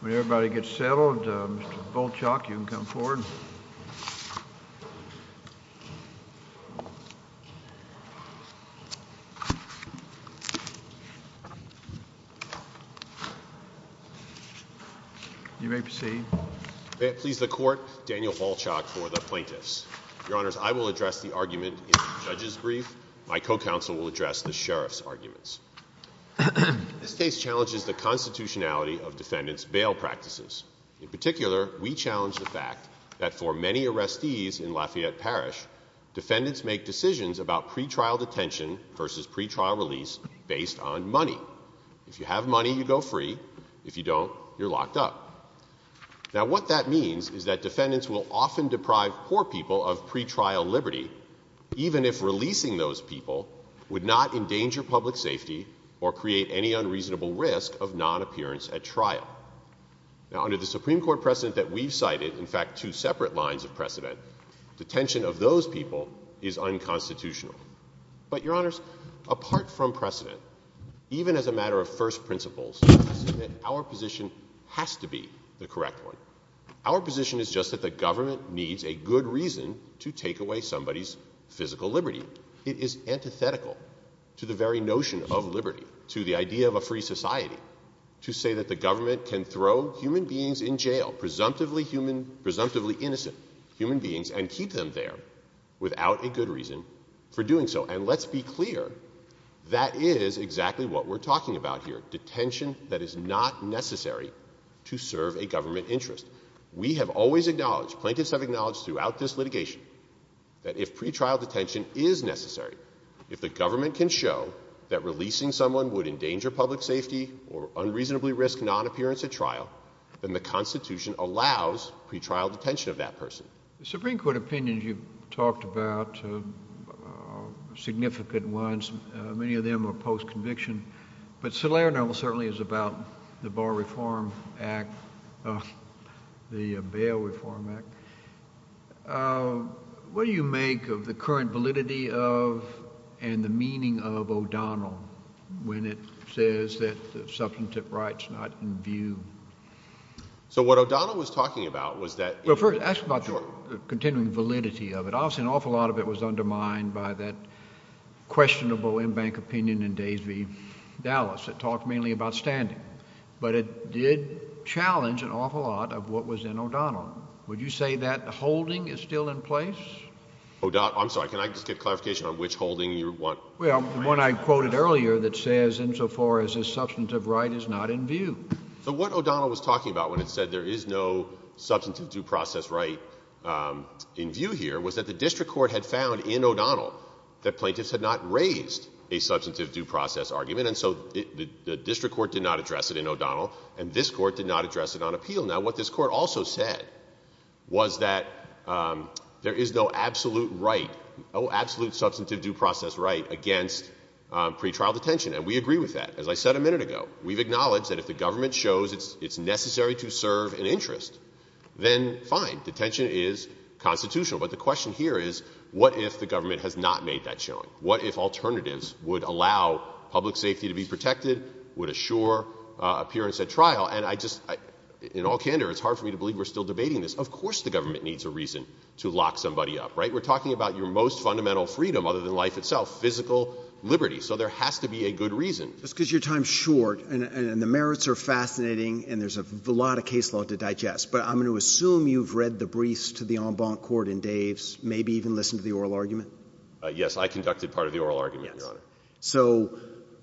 When everybody gets settled, Mr. Volchok, you can come forward. You may proceed. Please, the court. Daniel Volchok for the plaintiffs. Your Honors, I will address the argument in the judge's brief. My co-counsel will address the sheriff's arguments. This case challenges the constitutionality of defendants' bail practices. In particular, we challenge the fact that for many arrestees in Lafayette Parish, defendants make decisions about pretrial detention versus pretrial release based on money. If you have money, you go free. If you don't, you're locked up. Now, what that means is that defendants will often deprive poor people of pretrial liberty, even if releasing those people would not endanger public safety or create any unreasonable risk of non-appearance at trial. Now, under the Supreme Court precedent that we've cited, in fact, two separate lines of precedent, detention of those people is unconstitutional. But, Your Honors, apart from precedent, even as a matter of first principles, our position has to be the correct one. Our position is just that the government needs a good reason to take away somebody's physical liberty. It is antithetical to the very notion of liberty, to the idea of a free society, to say that the government can throw human beings in jail, presumptively innocent human beings, and keep them there without a good reason for doing so. And let's be clear, that is exactly what we're talking about here, detention that is not necessary to serve a government interest. We have always acknowledged, plaintiffs have acknowledged throughout this litigation, that if pretrial detention is necessary, if the government can show that releasing someone would endanger public safety or unreasonably risk non-appearance at trial, then the Constitution allows pretrial detention of that person. The Supreme Court opinions you've talked about are significant ones. Many of them are post-conviction. But Salerno certainly is about the Bar Reform Act, the Bail Reform Act. What do you make of the current validity of and the meaning of O'Donnell when it says that substantive rights are not in view? So what O'Donnell was talking about was that— Well, first, ask about the continuing validity of it. Obviously an awful lot of it was undermined by that questionable in-bank opinion in Days v. Dallas that talked mainly about standing. But it did challenge an awful lot of what was in O'Donnell. Would you say that holding is still in place? O'Donnell—I'm sorry, can I just get clarification on which holding you want— Well, the one I quoted earlier that says, insofar as this substantive right is not in view. So what O'Donnell was talking about when it said there is no substantive due process right in view here was that the district court had found in O'Donnell that plaintiffs had not raised a substantive due process argument. And so the district court did not address it in O'Donnell, and this court did not address it on appeal. Now what this court also said was that there is no absolute right, no absolute substantive due process right against pretrial detention. And we agree with that. As I said a minute ago, we've acknowledged that if the government shows it's necessary to serve an interest, then fine. Detention is constitutional. But the question here is what if the government has not made that showing? What if alternatives would allow public safety to be protected, would assure appearance at trial? And I just—in all candor, it's hard for me to believe we're still debating this. Of course the government needs a reason to lock somebody up, right? We're talking about your most fundamental freedom other than life itself, physical liberty. So there has to be a good reason. Just because your time is short, and the merits are fascinating, and there's a lot of case law to digest. But I'm going to assume you've read the briefs to the en banc court in Dave's, maybe even listened to the oral argument? Yes. I conducted part of the oral argument, Your Honor. Yes. So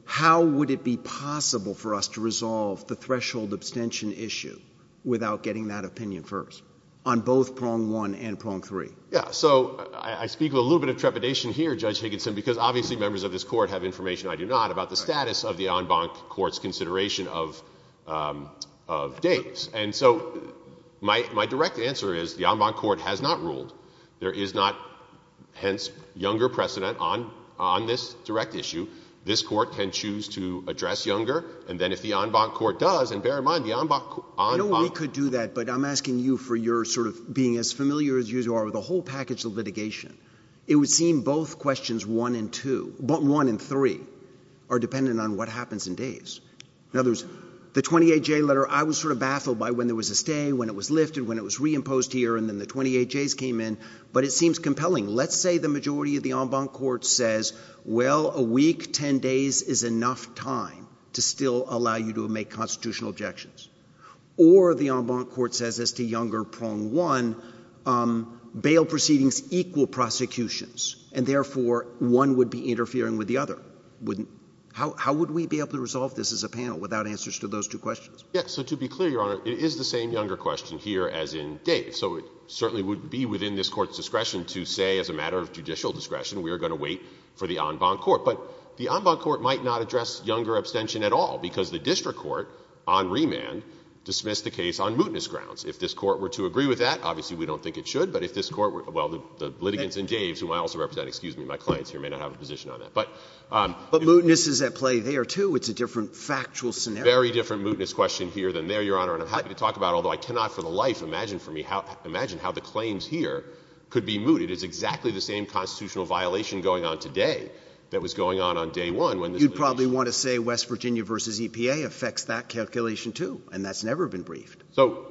how would it be possible for us to resolve the threshold abstention issue without getting that opinion first on both prong one and prong three? Yeah. So I speak with a little bit of trepidation here, Judge Higginson, because obviously members of this court have information I do not about the status of the en banc court's consideration of Dave's. And so my direct answer is the en banc court has not ruled. There is not, hence, younger precedent on this direct issue. This court can choose to address younger, and then if the en banc court does, and bear in mind the en banc court— I know we could do that, but I'm asking you for your sort of being as familiar as you are with the whole package of litigation. It would seem both questions one and two—one and three are dependent on what happens in Dave's. In other words, the 28-J letter, I was sort of baffled by when there was a stay, when it was lifted, when it was reimposed here, and then the 28-Js came in. But it seems compelling. Let's say the majority of the en banc court says, well, a week, 10 days is enough time to still allow you to make constitutional objections. Or the en banc court says as to younger prong one, bail proceedings equal prosecutions, and therefore one would be interfering with the other. How would we be able to resolve this as a panel without answers to those two questions? Yes. So to be clear, Your Honor, it is the same younger question here as in Dave's. So it certainly would be within this Court's discretion to say as a matter of judicial discretion we are going to wait for the en banc court. But the en banc court might not address younger abstention at all, because the district court on remand dismissed the case on mootness grounds. If this Court were to agree with that, obviously we don't think it should. But if this Court were—well, the litigants in Dave's, whom I also represent—excuse me, my clients here may not have a position on that. But— But mootness is at play there, too. It's a different factual scenario. Very different mootness question here than there, Your Honor. And I'm happy to talk about it, although I cannot for the life imagine for me how—imagine how the claims here could be mooted. It's exactly the same constitutional violation going on today that was going on on day one when this litigation— You'd probably want to say West Virginia v. EPA affects that calculation, too, and that's never been briefed. So,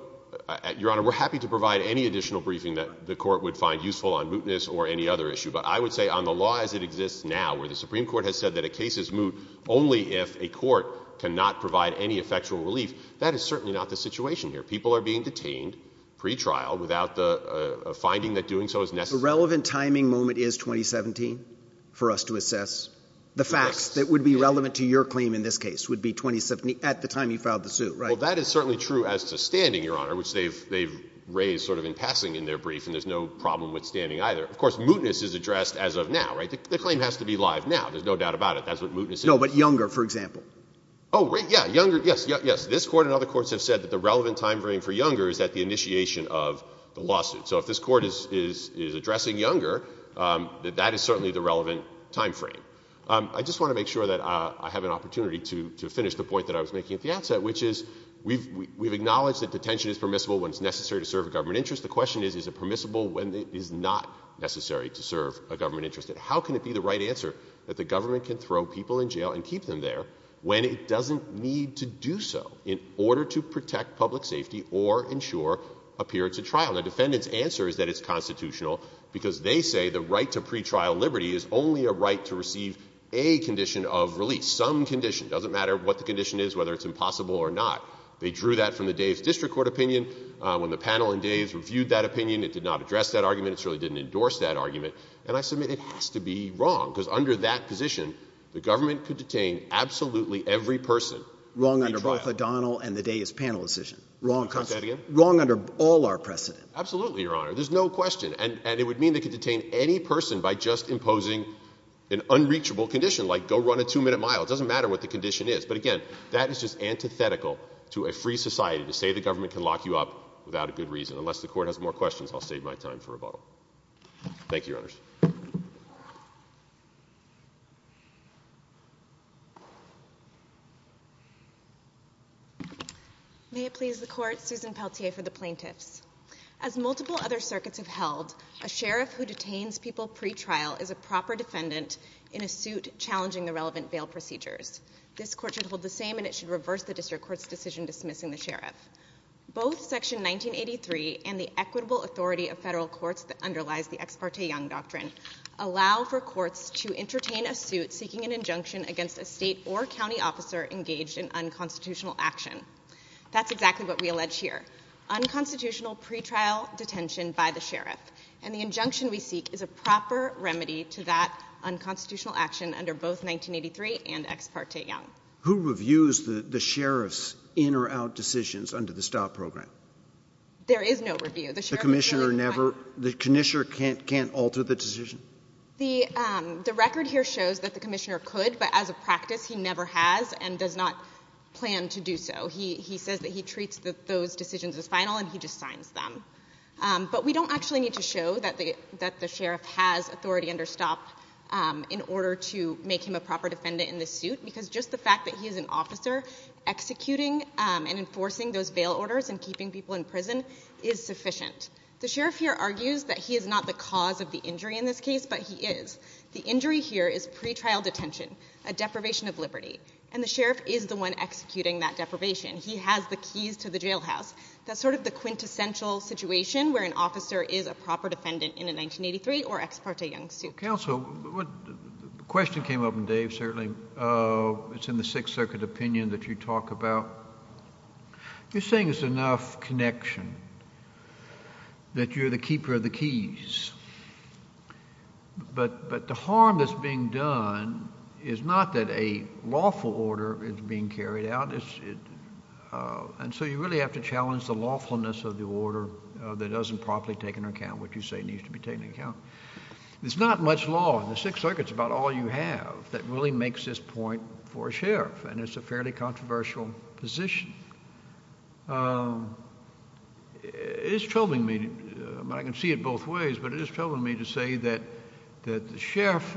Your Honor, we're happy to provide any additional briefing that the Court would find useful on mootness or any other issue. But I would say on the law as it exists now, where the Supreme Court has said that a case is moot only if a court cannot provide any effectual relief, that is certainly not the situation here. People are being detained pretrial without the finding that doing so is necessary. The relevant timing moment is 2017 for us to assess. The facts that would be relevant to your claim in this case would be 2017—at the time you filed the suit, right? Well, that is certainly true as to standing, Your Honor, which they've raised sort of in passing in their brief, and there's no problem with standing either. Of course, mootness is addressed as of now, right? The claim has to be live now. There's no doubt about it. That's what mootness is. No, but Younger, for example. Oh, right, yeah. Younger—yes, yes. This Court and other courts have said that the relevant time frame for Younger is at the initiation of the lawsuit. So if this Court is addressing Younger, that is certainly the relevant time frame. I just want to make sure that I have an opportunity to finish the point that I was making at the outset, which is we've acknowledged that detention is permissible when it's necessary to serve a government interest. The question is, is it permissible when it is not necessary to serve a government interest? And how can it be the right answer that the government can throw people in jail and keep them there when it doesn't need to do so in order to protect public safety or ensure a period to trial? And the defendant's answer is that it's constitutional, because they say the right to pretrial liberty is only a right to receive a condition of release, some condition. It doesn't matter what the condition is, whether it's impossible or not. They drew that from the Dave's district court opinion. When the panel and Dave's reviewed that opinion, it did not address that argument. It certainly didn't endorse that argument. And I submit it has to be wrong, because under that position, the government could detain absolutely every person. Wrong— Say that again? Absolutely, Your Honor. There's no question. And it would mean they could detain any person by just imposing an unreachable condition, like go run a two-minute mile. It doesn't matter what the condition is. But again, that is just antithetical to a free society to say the government can lock you up without a good reason. Unless the Court has more questions, I'll save my time for rebuttal. Thank you, Your Honors. May it please the Court, Susan Peltier for the plaintiffs. As multiple other circuits have held, a sheriff who detains people pretrial is a proper defendant in a suit challenging the relevant bail procedures. This Court should hold the same, and it should reverse the district court's decision dismissing the sheriff. Both Section 1983 and the equitable authority of federal courts that underlies the Ex parte Young Doctrine allow for courts to entertain a suit seeking an injunction against a state or county officer engaged in unconstitutional action. That's exactly what we allege here. Unconstitutional pretrial detention by the sheriff. And the injunction we seek is a proper remedy to that unconstitutional action under both 1983 and Ex parte Young. Who reviews the sheriff's in or out decisions under the STOP program? There is no review. The commissioner can't alter the decision? The record here shows that the commissioner could, but as a practice he never has and does not plan to do so. He says that he treats those decisions as final and he just signs them. But we don't actually need to show that the sheriff has authority under STOP in order to make him a proper defendant in this suit, because just the fact that he is an officer executing and enforcing those bail orders and keeping people in prison is sufficient. The sheriff here argues that he is not the cause of the injury in this case, but he is. The injury here is pretrial detention, a deprivation of liberty. And the sheriff is the one executing that deprivation. He has the keys to the jailhouse. That's sort of the quintessential situation where an officer is a proper defendant in a 1983 or Ex parte Young suit. Counsel, the question came up in Dave, certainly. It's in the Sixth Circuit opinion that you talk about. You're saying there's enough connection, that you're the keeper of the keys. But the harm that's being done is not that a lawful order is being carried out. And so you really have to challenge the lawfulness of the order that doesn't properly take into account what you say needs to be taken into account. There's not much law in the Sixth Circuit, it's about all you have, that really makes this point for a sheriff, and it's a fairly controversial position. It is troubling me, and I can see it both ways, but it is troubling me to say that the sheriff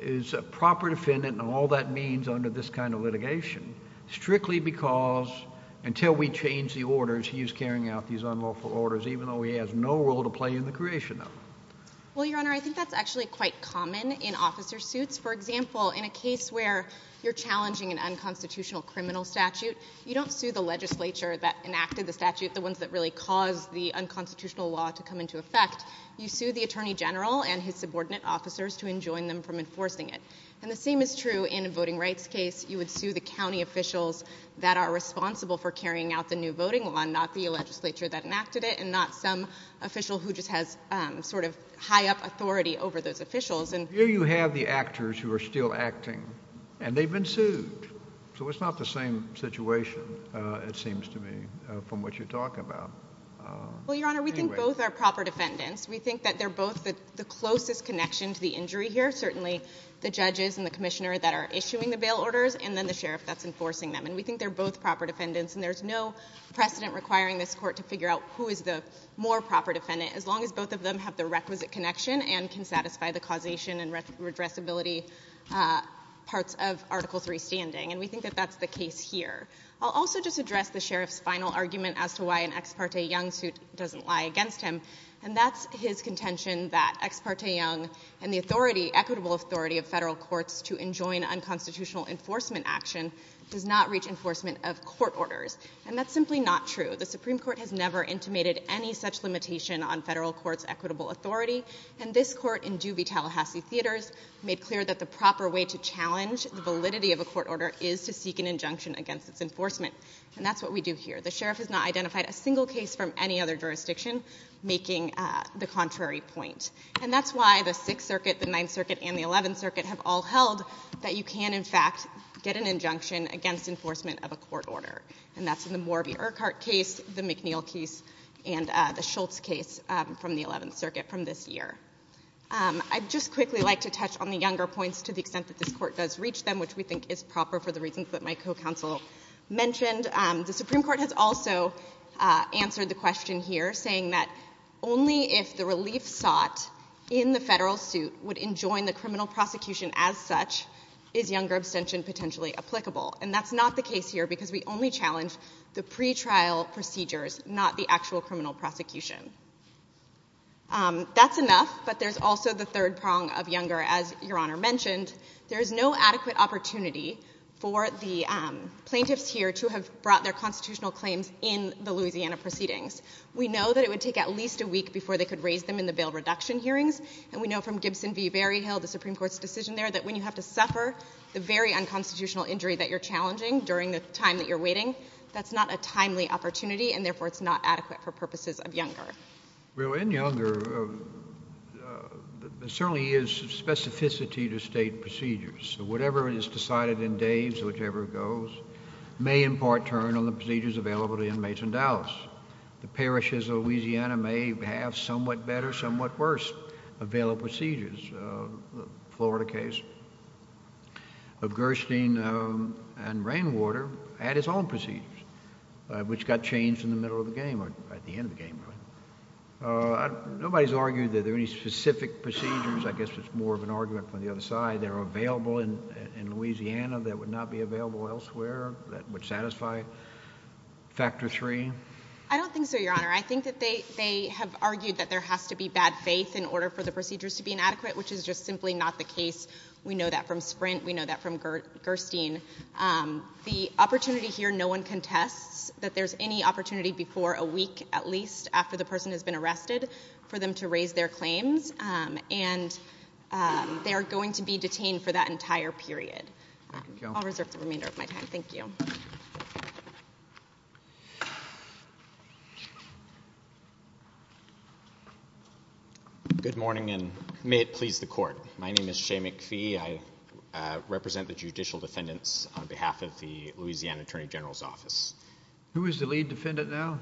is a proper defendant in all that means under this kind of litigation, strictly because until we change the orders, he is carrying out these unlawful orders, even though he has no role to play in the creation of them. Well, Your Honor, I think that's actually quite common in officer suits. For example, in a case where you're challenging an unconstitutional criminal statute, you don't sue the legislature that enacted the statute, the ones that really caused the unconstitutional law to come into effect. You sue the attorney general and his subordinate officers to enjoin them from enforcing it. And the same is true in a voting rights case. You would sue the county officials that are responsible for carrying out the new voting law, not the legislature that enacted it, and not some official who just has sort of high-up authority over those officials. Here you have the actors who are still acting, and they've been sued. So it's not the same situation, it seems to me, from what you talk about. Well, Your Honor, we think both are proper defendants. We think that they're both the closest connection to the injury here, certainly the judges and the commissioner that are issuing the bail orders, and then the sheriff that's enforcing them. And we think they're both proper defendants, and there's no precedent requiring this court to figure out who is the more proper defendant, as long as both of them have the requisite connection and can satisfy the causation and redressability parts of Article III standing. And we think that that's the case here. I'll also just address the sheriff's final argument as to why an ex parte young suit doesn't lie against him, and that's his contention that ex parte young and the authority, equitable authority of federal courts to enjoin unconstitutional enforcement action does not reach enforcement of court orders. And that's simply not true. The Supreme Court has never intimated any such limitation on federal courts' equitable authority, and this court in Dewey, Tallahassee, theaters made clear that the proper way to challenge the validity of a court order is to seek an injunction against its enforcement. And that's what we do here. The sheriff has not identified a single case from any other jurisdiction making the contrary point. And that's why the Sixth Circuit, the Ninth Circuit, and the Eleventh Circuit have all held that you can, in fact, get an injunction against enforcement of a court order, and that's in the Morby-Urquhart case, the McNeil case, and the Schultz case from the Eleventh Circuit from this year. I'd just quickly like to touch on the younger points to the extent that this court does reach them, which we think is proper for the reasons that my co-counsel mentioned. The Supreme Court has also answered the question here, saying that only if the relief sought in the federal suit would enjoin the criminal prosecution as such, is younger abstention potentially applicable. And that's not the case here because we only challenge the pretrial procedures, not the actual criminal prosecution. That's enough, but there's also the third prong of younger. As Your Honor mentioned, there is no adequate opportunity for the plaintiffs here to have brought their constitutional claims in the Louisiana proceedings. We know that it would take at least a week before they could raise them in the bail reduction hearings, and we know from Gibson v. Berryhill, the Supreme Court's decision there, that when you have to suffer the very unconstitutional injury that you're challenging during the time that you're waiting, that's not a timely opportunity, and therefore it's not adequate for purposes of younger. Well, in younger, there certainly is specificity to State procedures. Whatever is decided in days, whichever goes, may in part turn on the procedures available to inmates in Dallas. The parishes of Louisiana may have somewhat better, somewhat worse available procedures. The Florida case of Gerstein and Rainwater had its own procedures, which got changed in the middle of the game, or at the end of the game, really. Nobody's argued that there are any specific procedures. I guess it's more of an argument from the other side. They're available in Louisiana that would not be available elsewhere. That would satisfy factor three. I don't think so, Your Honor. I think that they have argued that there has to be bad faith in order for the procedures to be inadequate, which is just simply not the case. We know that from Sprint. We know that from Gerstein. The opportunity here, no one contests that there's any opportunity before a week, at least, after the person has been arrested for them to raise their claims, and they are going to be detained for that entire period. I'll reserve the remainder of my time. Thank you. Thank you. Good morning, and may it please the Court. My name is Shea McPhee. I represent the judicial defendants on behalf of the Louisiana Attorney General's Office. Who is the lead defendant now?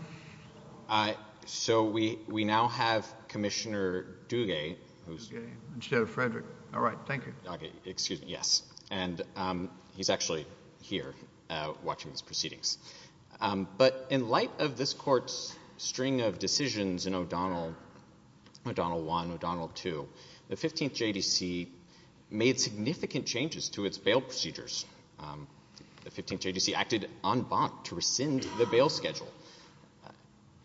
We now have Commissioner Duguay. Instead of Frederick. All right. Thank you. Excuse me. Yes, and he's actually here watching these proceedings. But in light of this Court's string of decisions in O'Donnell, O'Donnell 1, O'Donnell 2, the 15th JDC made significant changes to its bail procedures. The 15th JDC acted en banc to rescind the bail schedule.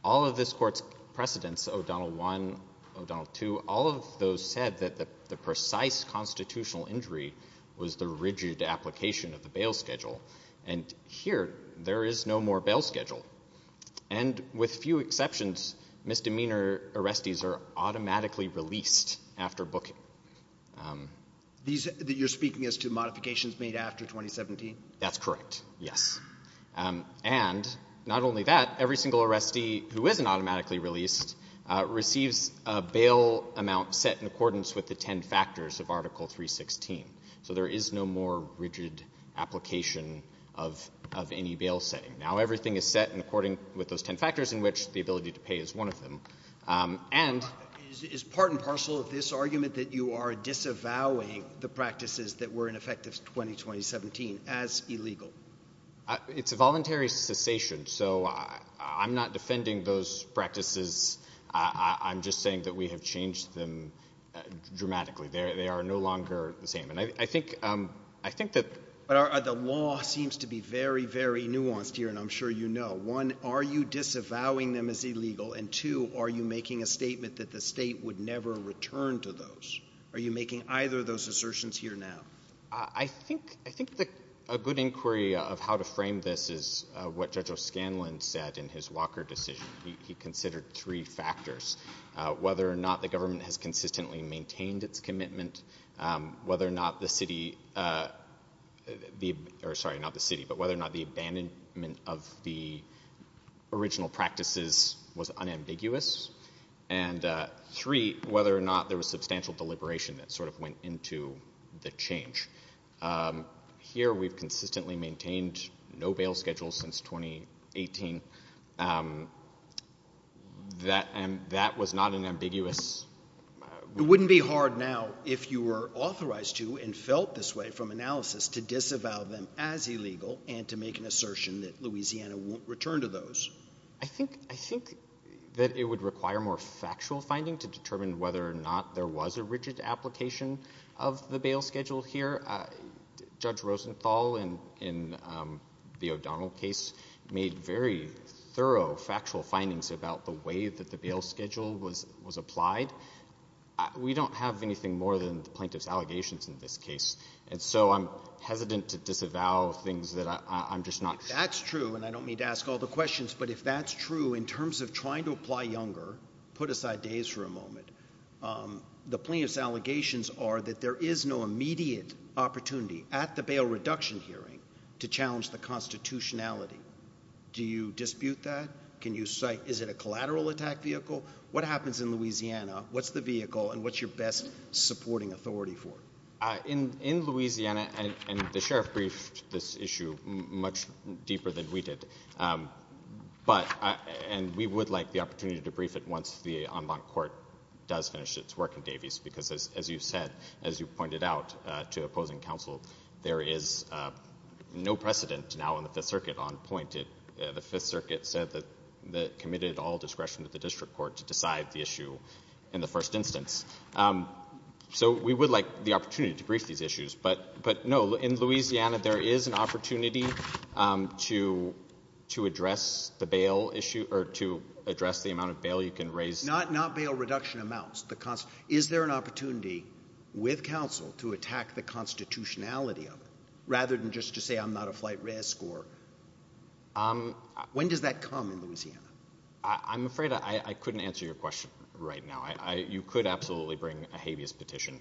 All of this Court's precedents, O'Donnell 1, O'Donnell 2, all of those said that the precise constitutional injury was the rigid application of the bail schedule. And here, there is no more bail schedule. And with few exceptions, misdemeanor arrestees are automatically released after booking. You're speaking as to modifications made after 2017? That's correct, yes. And not only that, every single arrestee who isn't automatically released receives a bail amount set in accordance with the ten factors of Article 316. So there is no more rigid application of any bail setting. Now everything is set in accordance with those ten factors in which the ability to pay is one of them. Is part and parcel of this argument that you are disavowing the practices that were in effect in 2017 as illegal? It's a voluntary cessation. So I'm not defending those practices. I'm just saying that we have changed them dramatically. They are no longer the same. And I think that the law seems to be very, very nuanced here, and I'm sure you know. One, are you disavowing them as illegal? And two, are you making a statement that the state would never return to those? Are you making either of those assertions here now? I think a good inquiry of how to frame this is what Judge O'Scanlan said in his Walker decision. He considered three factors, whether or not the government has consistently maintained its commitment, whether or not the city, or sorry, not the city, but whether or not the abandonment of the original practices was unambiguous, and three, whether or not there was substantial deliberation that sort of went into the change. Here we've consistently maintained no bail schedules since 2018. That was not an ambiguous. It wouldn't be hard now if you were authorized to and felt this way from analysis to disavow them as illegal and to make an assertion that Louisiana won't return to those. I think that it would require more factual finding to determine whether or not there was a rigid application of the bail schedule here. Judge Rosenthal in the O'Donnell case made very thorough factual findings about the way that the bail schedule was applied. We don't have anything more than the plaintiff's allegations in this case, and so I'm hesitant to disavow things that I'm just not seeing. If that's true, and I don't mean to ask all the questions, but if that's true in terms of trying to apply younger, put aside days for a moment, the plaintiff's allegations are that there is no immediate opportunity at the bail reduction hearing to challenge the constitutionality. Do you dispute that? Can you cite is it a collateral attack vehicle? What happens in Louisiana? What's the vehicle, and what's your best supporting authority for? In Louisiana, and the sheriff briefed this issue much deeper than we did, and we would like the opportunity to brief it once the en banc court does finish its work in Davies, because as you said, as you pointed out to opposing counsel, there is no precedent now in the Fifth Circuit on point. The Fifth Circuit said that it committed all discretion to the district court to decide the issue in the first instance. So we would like the opportunity to brief these issues, but, no, in Louisiana, there is an opportunity to address the bail issue or to address the amount of bail you can raise. Not bail reduction amounts. Is there an opportunity with counsel to attack the constitutionality of it rather than just to say I'm not a flight res score? When does that come in Louisiana? I'm afraid I couldn't answer your question right now. You could absolutely bring a habeas petition,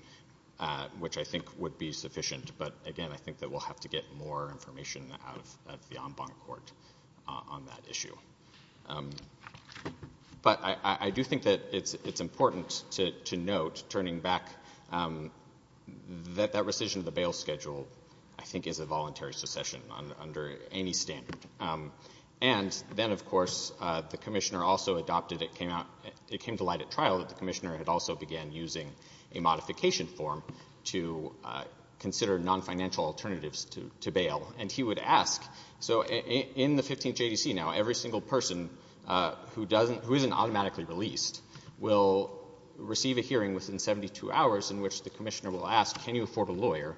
which I think would be sufficient, but, again, I think that we'll have to get more information out of the en banc court on that issue. But I do think that it's important to note, turning back, that that rescission of the bail schedule, I think, is a voluntary succession under any standard. And then, of course, the Commissioner also adopted, it came to light at trial, that the Commissioner had also began using a modification form to consider non-financial alternatives to bail. And he would ask, so in the 15th JDC now, every single person who doesn't, who isn't automatically released, will receive a hearing within 72 hours in which the Commissioner will ask, can you afford a lawyer?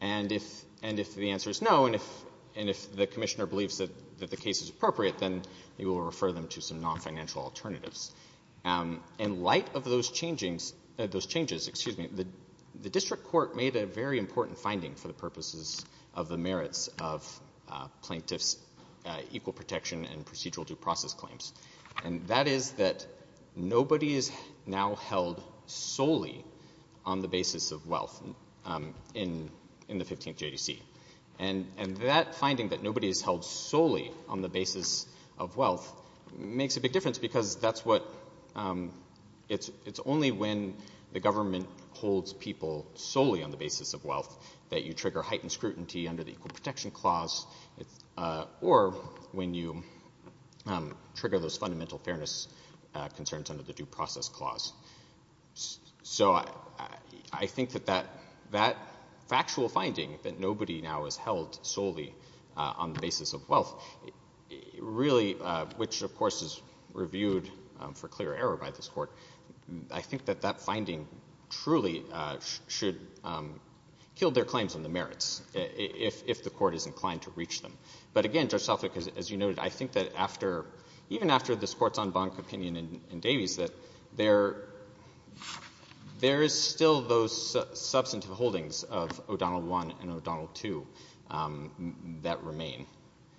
And if the answer is no, and if the Commissioner believes that the case is appropriate, then he will refer them to some non-financial alternatives. In light of those changes, the district court made a very important finding for the purposes of the merits of plaintiffs' equal protection and procedural due process claims, and that is that nobody is now held solely on the basis of wealth in the 15th JDC. And that finding, that nobody is held solely on the basis of wealth, makes a big difference, because that's what, it's only when the government holds people solely on the basis of wealth that you trigger heightened scrutiny under the Equal Protection Clause, or when you trigger those fundamental fairness concerns under the Due Process Clause. So I think that that factual finding, that nobody now is held solely on the basis of wealth, really, which of course is reviewed for clear error by this Court, I think that that finding truly should kill their claims on the merits, if the Court is inclined to reach them. But again, Judge Suffolk, as you noted, I think that after, even after this Court's en banc opinion in Davies, that there is still those substantive holdings of O'Donnell I and O'Donnell II that remain.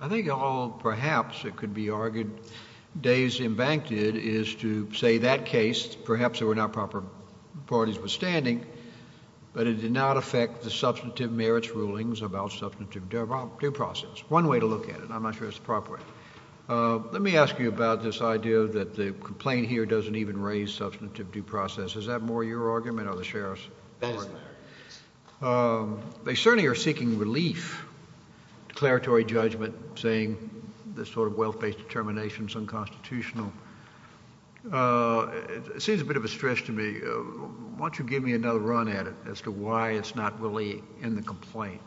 I think all, perhaps, it could be argued, Daves embanked it, is to say that case, perhaps there were not proper parties withstanding, but it did not affect the substantive merits rulings about substantive due process. One way to look at it. I'm not sure it's the proper way. Let me ask you about this idea that the complaint here doesn't even raise substantive due process. Is that more your argument or the Sheriff's argument? That is their argument. They certainly are seeking relief, declaratory judgment, saying this sort of wealth-based determination is unconstitutional. It seems a bit of a stretch to me. Why don't you give me another run at it as to why it's not really in the complaint.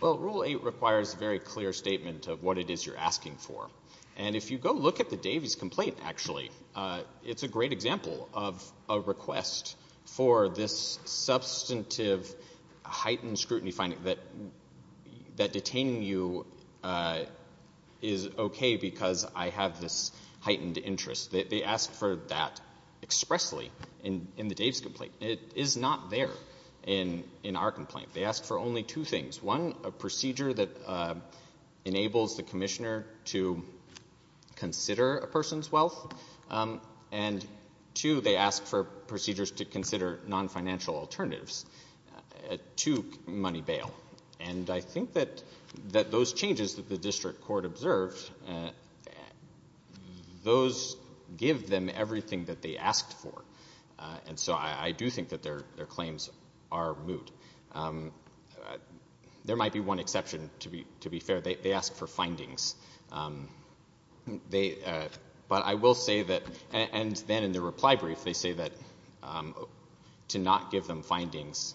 Well, Rule 8 requires a very clear statement of what it is you're asking for. And if you go look at the Davies complaint, actually, it's a great example of a request for this substantive heightened scrutiny finding that detaining you is okay because I have this heightened interest. They ask for that expressly in the Davies complaint. It is not there in our complaint. They ask for only two things. One, a procedure that enables the commissioner to consider a person's wealth. And two, they ask for procedures to consider non-financial alternatives to money bail. And I think that those changes that the district court observed, those give them everything that they asked for. And so I do think that their claims are moot. There might be one exception, to be fair. They ask for findings. But I will say that, and then in the reply brief, they say that to not give them findings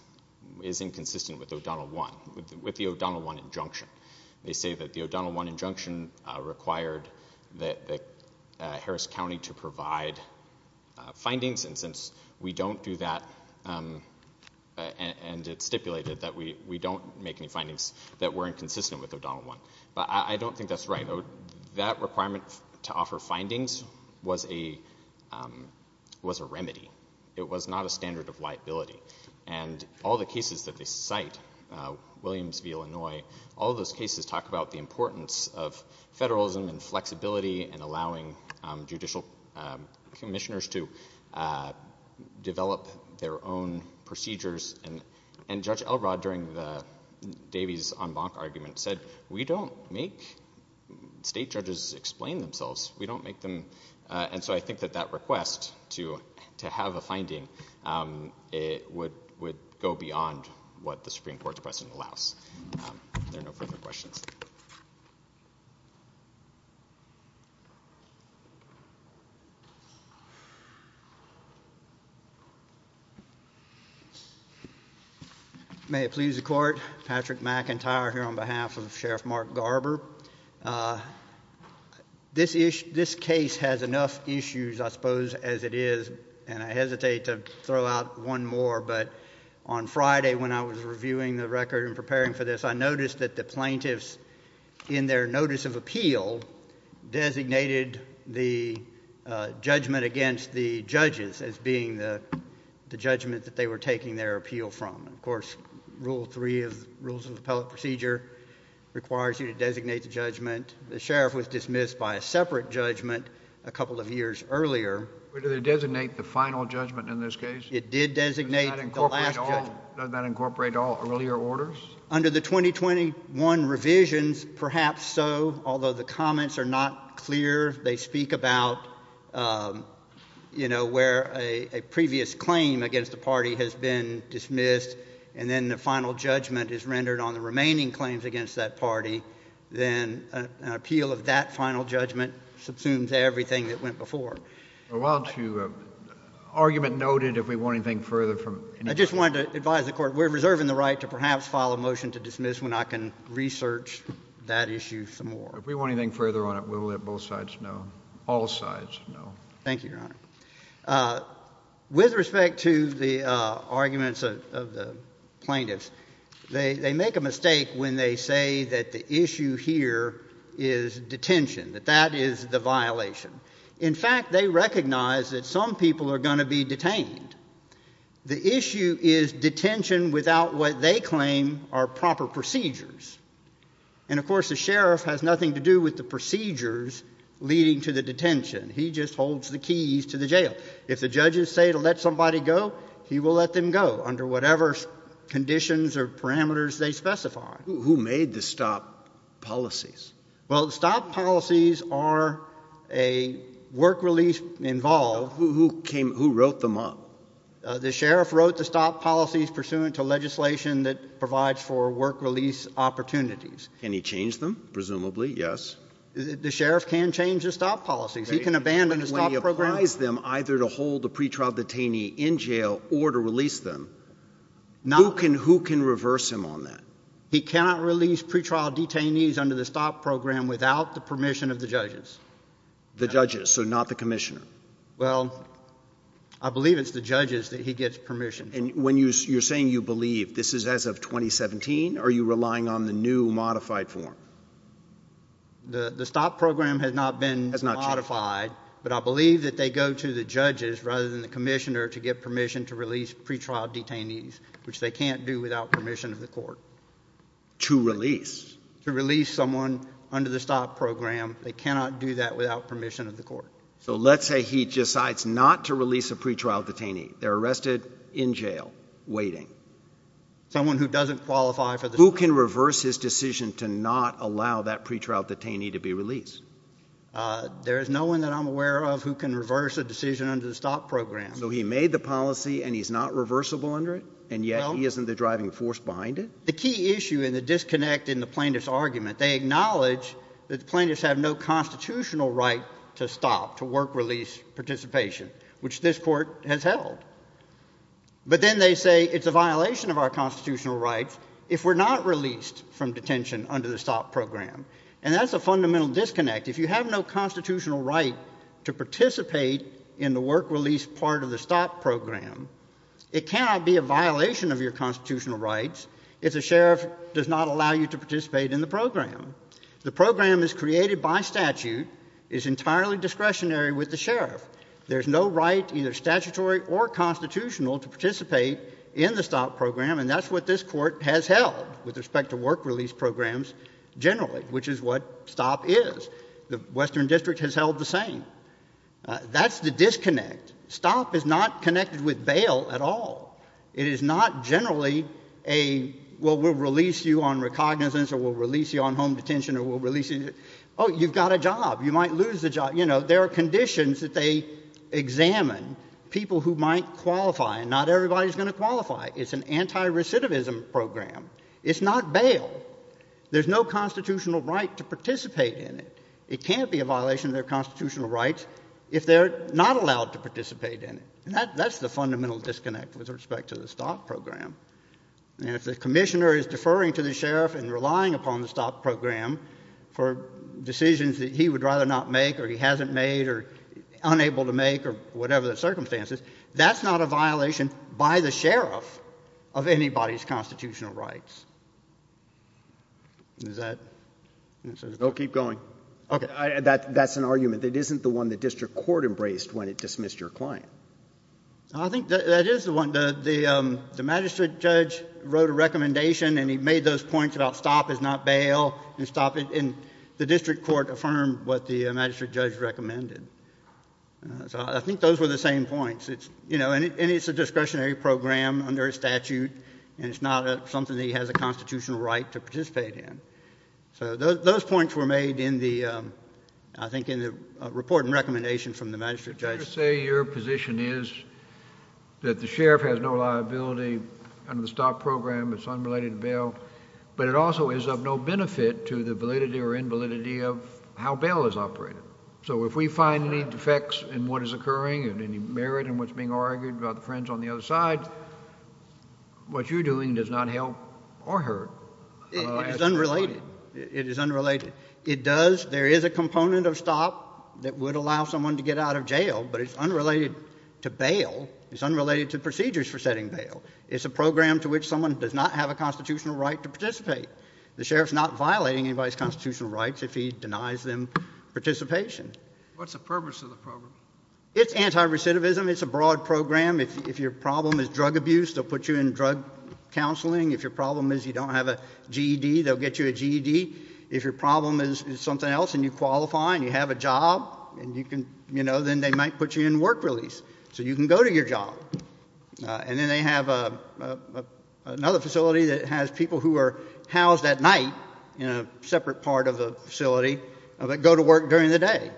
is inconsistent with O'Donnell 1, with the O'Donnell 1 injunction. They say that the O'Donnell 1 injunction required Harris County to provide findings, and since we don't do that and it's stipulated that we don't make any findings, that we're inconsistent with O'Donnell 1. But I don't think that's right. That requirement to offer findings was a remedy. It was not a standard of liability. And all the cases that they cite, Williams v. Illinois, all those cases talk about the importance of federalism and flexibility and allowing judicial commissioners to develop their own procedures. And Judge Elrod, during the Davies-Onbonk argument, said we don't make state judges explain themselves. We don't make them. And so I think that that request to have a finding would go beyond what the Supreme Court's precedent allows. There are no further questions. May it please the Court. Patrick McIntyre here on behalf of Sheriff Mark Garber. This case has enough issues, I suppose, as it is, and I hesitate to throw out one more, but on Friday when I was reviewing the record and preparing for this, I noticed that the plaintiffs in their notice of appeal designated the judgment against the judges as being the judgment that they were taking their appeal from. And, of course, Rule 3 of the Rules of Appellate Procedure requires you to designate the judgment. The sheriff was dismissed by a separate judgment a couple of years earlier. But did they designate the final judgment in this case? It did designate the last judgment. Does that incorporate all earlier orders? Under the 2021 revisions, perhaps so, although the comments are not clear. They speak about, you know, where a previous claim against the party has been dismissed and then the final judgment is rendered on the remaining claims against that party. Then an appeal of that final judgment subsumes everything that went before. Well, to argument noted, if we want anything further from any— I just wanted to advise the Court we're reserving the right to perhaps file a motion to dismiss when I can research that issue some more. If we want anything further on it, we'll let both sides know, all sides know. Thank you, Your Honor. With respect to the arguments of the plaintiffs, they make a mistake when they say that the issue here is detention, that that is the violation. In fact, they recognize that some people are going to be detained. The issue is detention without what they claim are proper procedures. And, of course, the sheriff has nothing to do with the procedures leading to the detention. He just holds the keys to the jail. If the judges say to let somebody go, he will let them go under whatever conditions or parameters they specify. Who made the stop policies? Well, the stop policies are a work release involved. Who came—who wrote them up? The sheriff wrote the stop policies pursuant to legislation that provides for work release opportunities. Can he change them? Presumably, yes. The sheriff can change the stop policies. He can abandon the stop program. When he applies them either to hold the pretrial detainee in jail or to release them, who can reverse him on that? He cannot release pretrial detainees under the stop program without the permission of the judges. The judges, so not the commissioner. Well, I believe it's the judges that he gets permission from. And when you're saying you believe, this is as of 2017? Are you relying on the new modified form? The stop program has not been modified, but I believe that they go to the judges rather than the commissioner to get permission to release pretrial detainees, which they can't do without permission of the court. To release. To release someone under the stop program. They cannot do that without permission of the court. So let's say he decides not to release a pretrial detainee. They're arrested in jail waiting. Someone who doesn't qualify for the stop program. Who can reverse his decision to not allow that pretrial detainee to be released? There is no one that I'm aware of who can reverse a decision under the stop program. So he made the policy and he's not reversible under it? And yet he isn't the driving force behind it? The key issue and the disconnect in the plaintiff's argument, they acknowledge that the plaintiffs have no constitutional right to stop, to work release participation, which this court has held. But then they say it's a violation of our constitutional rights if we're not released from detention under the stop program. And that's a fundamental disconnect. If you have no constitutional right to participate in the work release part of the stop program, it cannot be a violation of your constitutional rights if the sheriff does not allow you to participate in the program. The program is created by statute, is entirely discretionary with the sheriff. There's no right, either statutory or constitutional, to participate in the stop program. And that's what this court has held with respect to work release programs generally, which is what stop is. The Western District has held the same. That's the disconnect. Stop is not connected with bail at all. It is not generally a, well, we'll release you on recognizance or we'll release you on home detention or we'll release you. Oh, you've got a job. You might lose the job. You know, there are conditions that they examine people who might qualify, and not everybody's going to qualify. It's an anti-recidivism program. It's not bail. There's no constitutional right to participate in it. It can't be a violation of their constitutional rights if they're not allowed to participate in it. And that's the fundamental disconnect with respect to the stop program. And if the commissioner is deferring to the sheriff and relying upon the stop program for decisions that he would rather not make or he hasn't made or unable to make or whatever the circumstances, that's not a violation by the sheriff of anybody's constitutional rights. Does that answer the question? Go keep going. Okay. That's an argument. It isn't the one the district court embraced when it dismissed your client. I think that is the one. The magistrate judge wrote a recommendation and he made those points about stop is not bail and stop. And the district court affirmed what the magistrate judge recommended. So I think those were the same points. And it's a discretionary program under a statute, and it's not something that he has a constitutional right to participate in. So those points were made in the, I think, in the report and recommendation from the magistrate judge. Your position is that the sheriff has no liability under the stop program, it's unrelated to bail, but it also is of no benefit to the validity or invalidity of how bail is operated. So if we find any defects in what is occurring and any merit in what's being argued about the friends on the other side, what you're doing does not help or hurt. It is unrelated. It is unrelated. It does, there is a component of stop that would allow someone to get out of jail, but it's unrelated to bail. It's unrelated to procedures for setting bail. It's a program to which someone does not have a constitutional right to participate. The sheriff's not violating anybody's constitutional rights if he denies them participation. What's the purpose of the program? It's anti-recidivism. It's a broad program. If your problem is drug abuse, they'll put you in drug counseling. If your problem is you don't have a GED, they'll get you a GED. If your problem is something else and you qualify and you have a job, then they might put you in work release so you can go to your job. And then they have another facility that has people who are housed at night in a separate part of the facility that go to work during the day.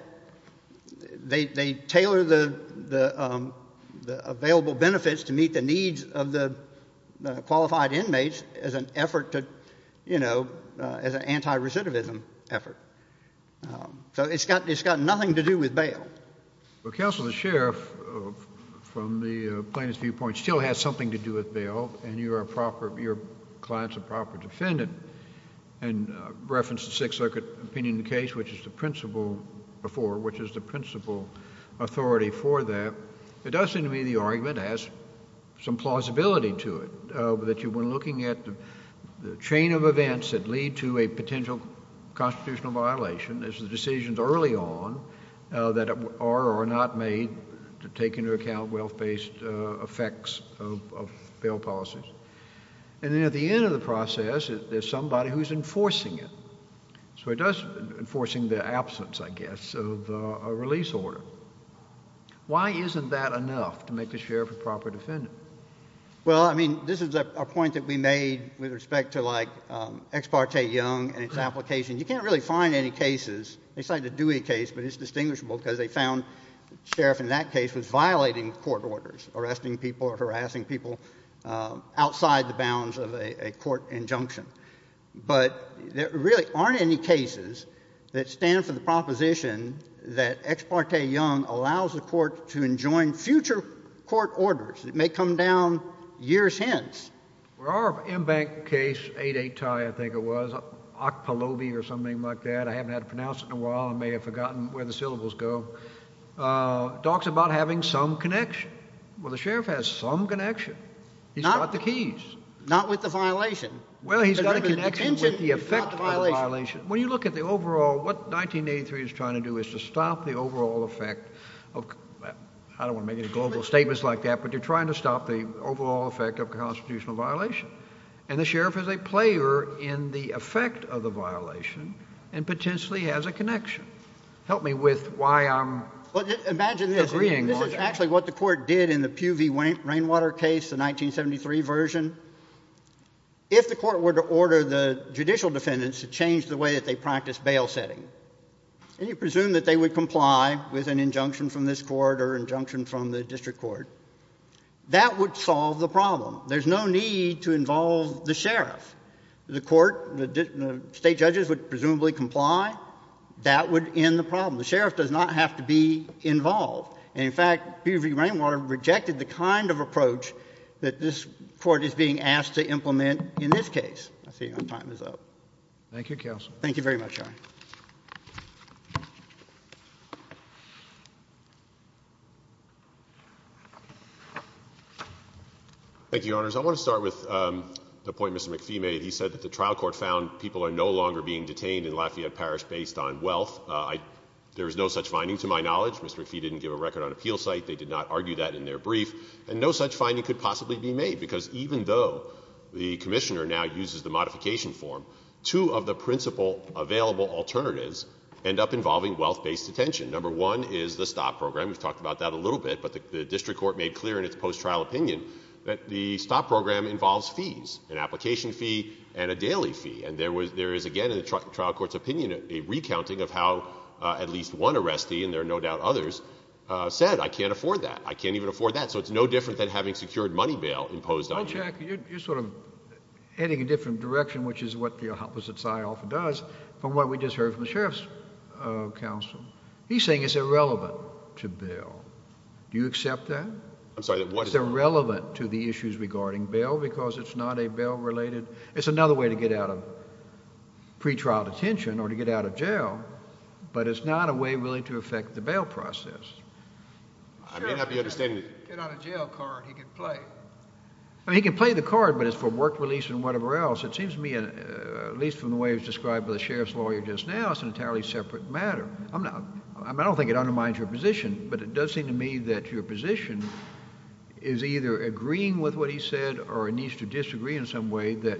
They tailor the available benefits to meet the needs of the qualified inmates as an effort to, you know, as an anti-recidivism effort. So it's got nothing to do with bail. Well, counsel, the sheriff, from the plaintiff's viewpoint, still has something to do with bail, and your client's a proper defendant. And I referenced the Sixth Circuit opinion in the case, which is the principal authority for that. It does seem to me the argument has some plausibility to it, that when looking at the chain of events that lead to a potential constitutional violation, there's the decisions early on that are or are not made to take into account wealth-based effects of bail policies. And then at the end of the process, there's somebody who's enforcing it. So it does enforcing the absence, I guess, of a release order. Why isn't that enough to make a sheriff a proper defendant? Well, I mean, this is a point that we made with respect to, like, Ex parte Young and its application. You can't really find any cases. They cited the Dewey case, but it's distinguishable because they found the sheriff in that case was violating court orders, arresting people or harassing people outside the bounds of a court injunction. But there really aren't any cases that stand for the proposition that Ex parte Young allows the court to enjoin future court orders. It may come down years hence. Well, our embanked case, 8-8-TIE, I think it was, Okpalovi or something like that. I haven't had to pronounce it in a while. I may have forgotten where the syllables go. It talks about having some connection. Well, the sheriff has some connection. He's got the keys. Not with the violation. Well, he's got a connection with the effect of the violation. When you look at the overall, what 1983 is trying to do is to stop the overall effect of – And the sheriff is a player in the effect of the violation and potentially has a connection. Help me with why I'm agreeing on that. Well, imagine this. This is actually what the court did in the Pew v. Rainwater case, the 1973 version. If the court were to order the judicial defendants to change the way that they practiced bail setting, and you presume that they would comply with an injunction from this court or an injunction from the district court, that would solve the problem. There's no need to involve the sheriff. The court, the state judges would presumably comply. That would end the problem. The sheriff does not have to be involved. And, in fact, Pew v. Rainwater rejected the kind of approach that this court is being asked to implement in this case. I see my time is up. Thank you, counsel. Thank you very much, Your Honor. Thank you, Your Honors. I want to start with the point Mr. McPhee made. He said that the trial court found people are no longer being detained in Lafayette Parish based on wealth. There is no such finding to my knowledge. Mr. McPhee didn't give a record on appeal site. They did not argue that in their brief. And no such finding could possibly be made because even though the commissioner now uses the modification form, two of the principal available alternatives end up involving wealth-based detention. Number one is the stop program. We've talked about that a little bit. But the district court made clear in its post-trial opinion that the stop program involves fees, an application fee and a daily fee. And there is, again, in the trial court's opinion, a recounting of how at least one arrestee, and there are no doubt others, said, I can't afford that. I can't even afford that. So it's no different than having secured money bail imposed on you. Bill, you're sort of heading in a different direction, which is what the opposite side often does, from what we just heard from the sheriff's counsel. He's saying it's irrelevant to bail. Do you accept that? I'm sorry. It's irrelevant to the issues regarding bail because it's not a bail-related. It's another way to get out of pretrial detention or to get out of jail, but it's not a way really to affect the bail process. I may not be understanding it. If he could get out of jail, he could play. He could play the card, but it's for work release and whatever else. It seems to me, at least from the way it was described by the sheriff's lawyer just now, it's an entirely separate matter. I don't think it undermines your position, but it does seem to me that your position is either agreeing with what he said or it needs to disagree in some way that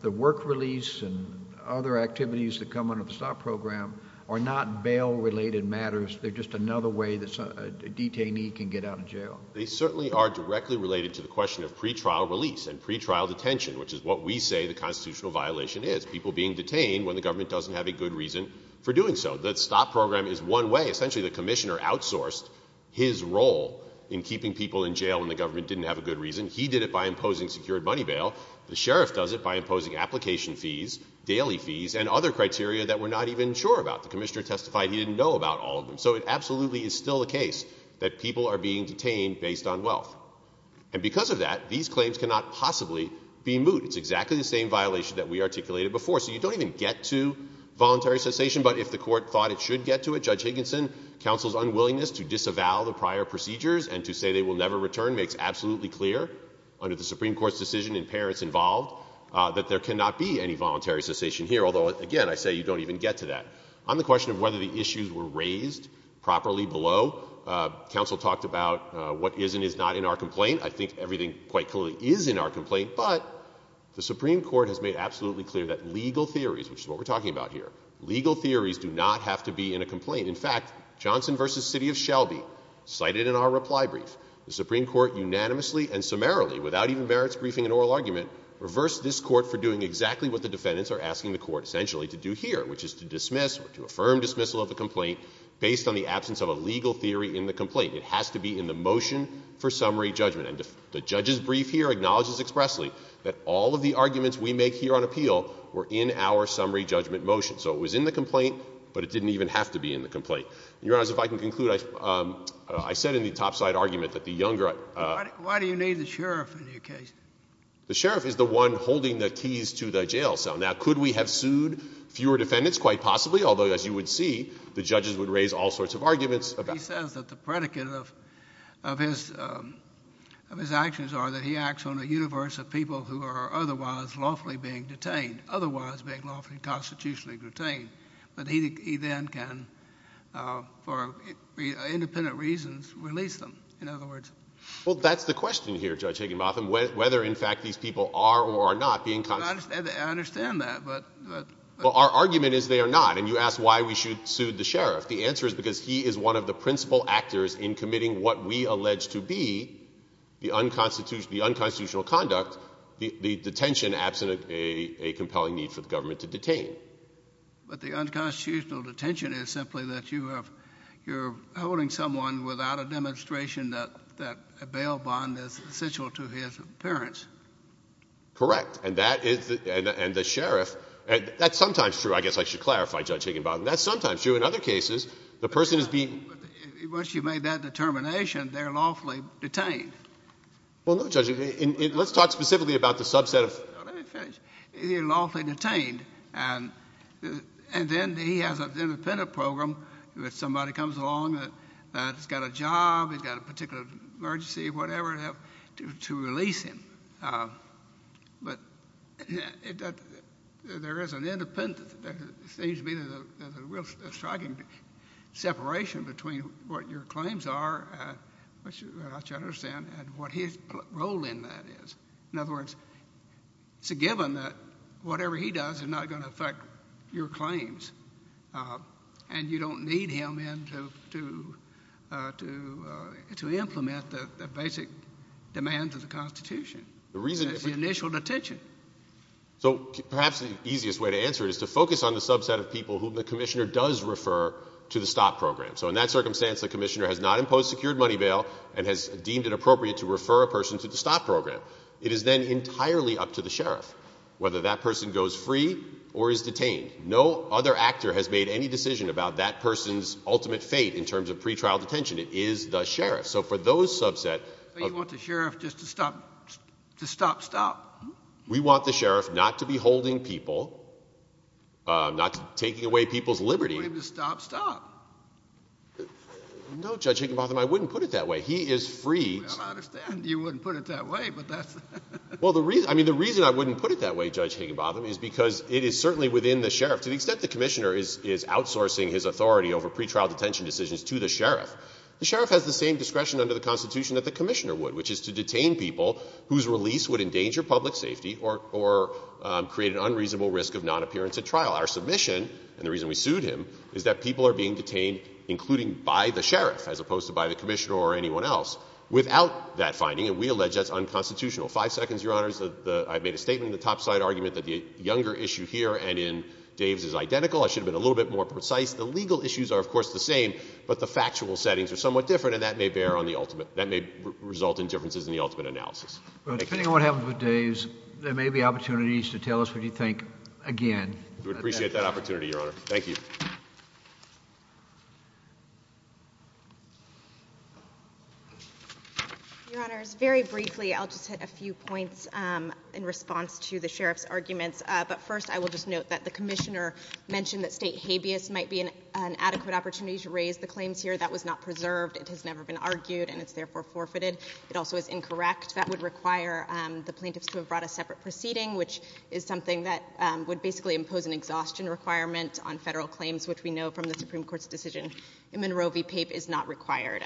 the work release and other activities that come under the stop program are not bail-related matters. They're just another way that a detainee can get out of jail. They certainly are directly related to the question of pretrial release and pretrial detention, which is what we say the constitutional violation is, people being detained when the government doesn't have a good reason for doing so. The stop program is one way. Essentially, the commissioner outsourced his role in keeping people in jail when the government didn't have a good reason. He did it by imposing secured money bail. The sheriff does it by imposing application fees, daily fees, and other criteria that we're not even sure about. The commissioner testified he didn't know about all of them. So it absolutely is still the case that people are being detained based on wealth. And because of that, these claims cannot possibly be moot. It's exactly the same violation that we articulated before. So you don't even get to voluntary cessation. But if the court thought it should get to it, Judge Higginson, counsel's unwillingness to disavow the prior procedures and to say they will never return makes absolutely clear under the Supreme Court's decision and parents involved that there cannot be any voluntary cessation here, although, again, I say you don't even get to that. On the question of whether the issues were raised properly below, counsel talked about what is and is not in our complaint. I think everything quite clearly is in our complaint. But the Supreme Court has made absolutely clear that legal theories, which is what we're talking about here, legal theories do not have to be in a complaint. In fact, Johnson v. City of Shelby, cited in our reply brief, the Supreme Court unanimously and summarily, without even merits briefing an oral argument, reversed this court for doing exactly what the defendants are asking the court, essentially, to do here, which is to dismiss or to affirm dismissal of a complaint based on the absence of a legal theory in the complaint. It has to be in the motion for summary judgment. And the judge's brief here acknowledges expressly that all of the arguments we make here on appeal were in our summary judgment motion. So it was in the complaint, but it didn't even have to be in the complaint. Your Honors, if I can conclude, I said in the topside argument that the younger— Why do you need the sheriff in your case? The sheriff is the one holding the keys to the jail cell. Now, could we have sued fewer defendants? Quite possibly, although, as you would see, the judges would raise all sorts of arguments about— He says that the predicate of his actions are that he acts on a universe of people who are otherwise lawfully being detained, otherwise being lawfully constitutionally detained, but he then can, for independent reasons, release them, in other words. Well, that's the question here, Judge Higginbotham, whether, in fact, these people are or are not being— I understand that, but— Well, our argument is they are not, and you asked why we should sue the sheriff. The answer is because he is one of the principal actors in committing what we allege to be the unconstitutional conduct, the detention, absent a compelling need for the government to detain. But the unconstitutional detention is simply that you're holding someone without a demonstration that a bail bond is essential to his appearance. Correct. And that is—and the sheriff—that's sometimes true. I guess I should clarify, Judge Higginbotham. That's sometimes true. In other cases, the person is being— Once you've made that determination, they're lawfully detained. Well, no, Judge. Let's talk specifically about the subset of— Let me finish. He's lawfully detained, and then he has an independent program where somebody comes along that's got a job, he's got a particular emergency, whatever, to release him. But there is an independent—there seems to be a striking separation between what your claims are, which I understand, and what his role in that is. In other words, it's a given that whatever he does is not going to affect your claims, and you don't need him in to implement the basic demands of the Constitution. The reason— It's the initial detention. So perhaps the easiest way to answer it is to focus on the subset of people whom the commissioner does refer to the STOP program. So in that circumstance, the commissioner has not imposed secured money bail and has deemed it appropriate to refer a person to the STOP program. It is then entirely up to the sheriff whether that person goes free or is detained. No other actor has made any decision about that person's ultimate fate in terms of pretrial detention. It is the sheriff. So for those subset— But you want the sheriff just to stop—to stop, stop. We want the sheriff not to be holding people, not taking away people's liberty. You want him to stop, stop. No, Judge Higginbotham, I wouldn't put it that way. He is free— Well, I understand you wouldn't put it that way, but that's— Well, I mean, the reason I wouldn't put it that way, Judge Higginbotham, is because it is certainly within the sheriff. To the extent the commissioner is outsourcing his authority over pretrial detention decisions to the sheriff, the sheriff has the same discretion under the Constitution that the commissioner would, which is to detain people whose release would endanger public safety or create an unreasonable risk of nonappearance at trial. Our submission, and the reason we sued him, is that people are being detained, including by the sheriff, as opposed to by the commissioner or anyone else, without that finding, and we allege that's unconstitutional. Five seconds, Your Honors. I've made a statement in the topside argument that the Younger issue here and in Dave's is identical. I should have been a little bit more precise. The legal issues are, of course, the same, but the factual settings are somewhat different, and that may bear on the ultimate—that may result in differences in the ultimate analysis. Thank you. Well, depending on what happens with Dave's, there may be opportunities to tell us what you think again. We would appreciate that opportunity, Your Honor. Thank you. Your Honors, very briefly, I'll just hit a few points in response to the sheriff's arguments, but first I will just note that the commissioner mentioned that state habeas might be an adequate opportunity to raise the claims here. That was not preserved. It has never been argued, and it's therefore forfeited. It also is incorrect. That would require the plaintiffs to have brought a separate proceeding, which is something that would basically impose an exhaustion requirement on federal claims, which we know from the Supreme Court's decision in Monroe v. Pape is not required.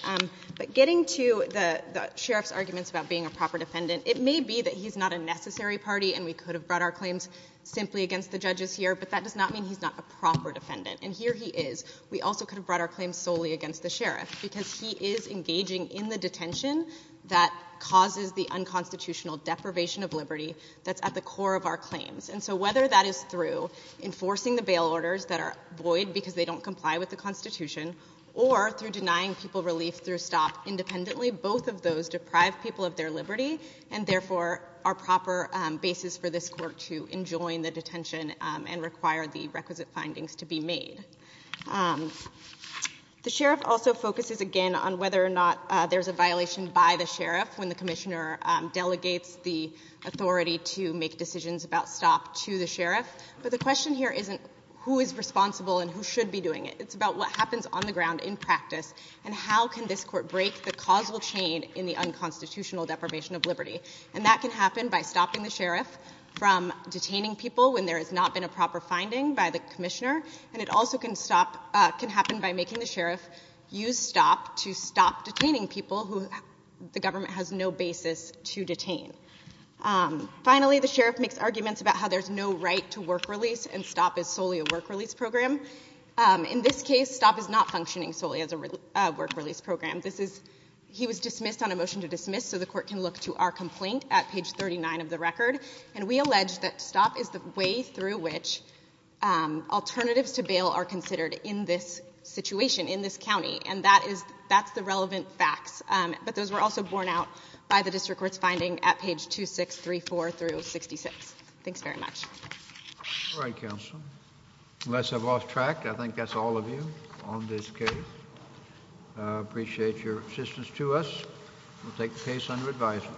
But getting to the sheriff's arguments about being a proper defendant, it may be that he's not a necessary party and we could have brought our claims simply against the judges here, but that does not mean he's not a proper defendant, and here he is. We also could have brought our claims solely against the sheriff because he is engaging in the detention that causes the unconstitutional deprivation of liberty that's at the core of our claims. And so whether that is through enforcing the bail orders that are void because they don't comply with the Constitution or through denying people relief through STOP independently, both of those deprive people of their liberty and therefore are proper basis for this Court to enjoin the detention and require the requisite findings to be made. The sheriff also focuses, again, on whether or not there's a violation by the sheriff when the commissioner delegates the authority to make decisions about STOP to the sheriff. But the question here isn't who is responsible and who should be doing it. It's about what happens on the ground in practice, and how can this Court break the causal chain in the unconstitutional deprivation of liberty. And that can happen by stopping the sheriff from detaining people when there has not been a proper finding by the commissioner, and it also can happen by making the sheriff use STOP to stop detaining people who the government has no basis to detain. Finally, the sheriff makes arguments about how there's no right to work release and STOP is solely a work release program. In this case, STOP is not functioning solely as a work release program. He was dismissed on a motion to dismiss, so the Court can look to our complaint at page 39 of the record. And we allege that STOP is the way through which alternatives to bail are considered in this situation, in this county. And that's the relevant facts. But those were also borne out by the District Court's finding at page 2634 through 66. Thanks very much. All right, counsel. Unless I've lost track, I think that's all of you on this case. I appreciate your assistance to us. We'll take the case under advisement.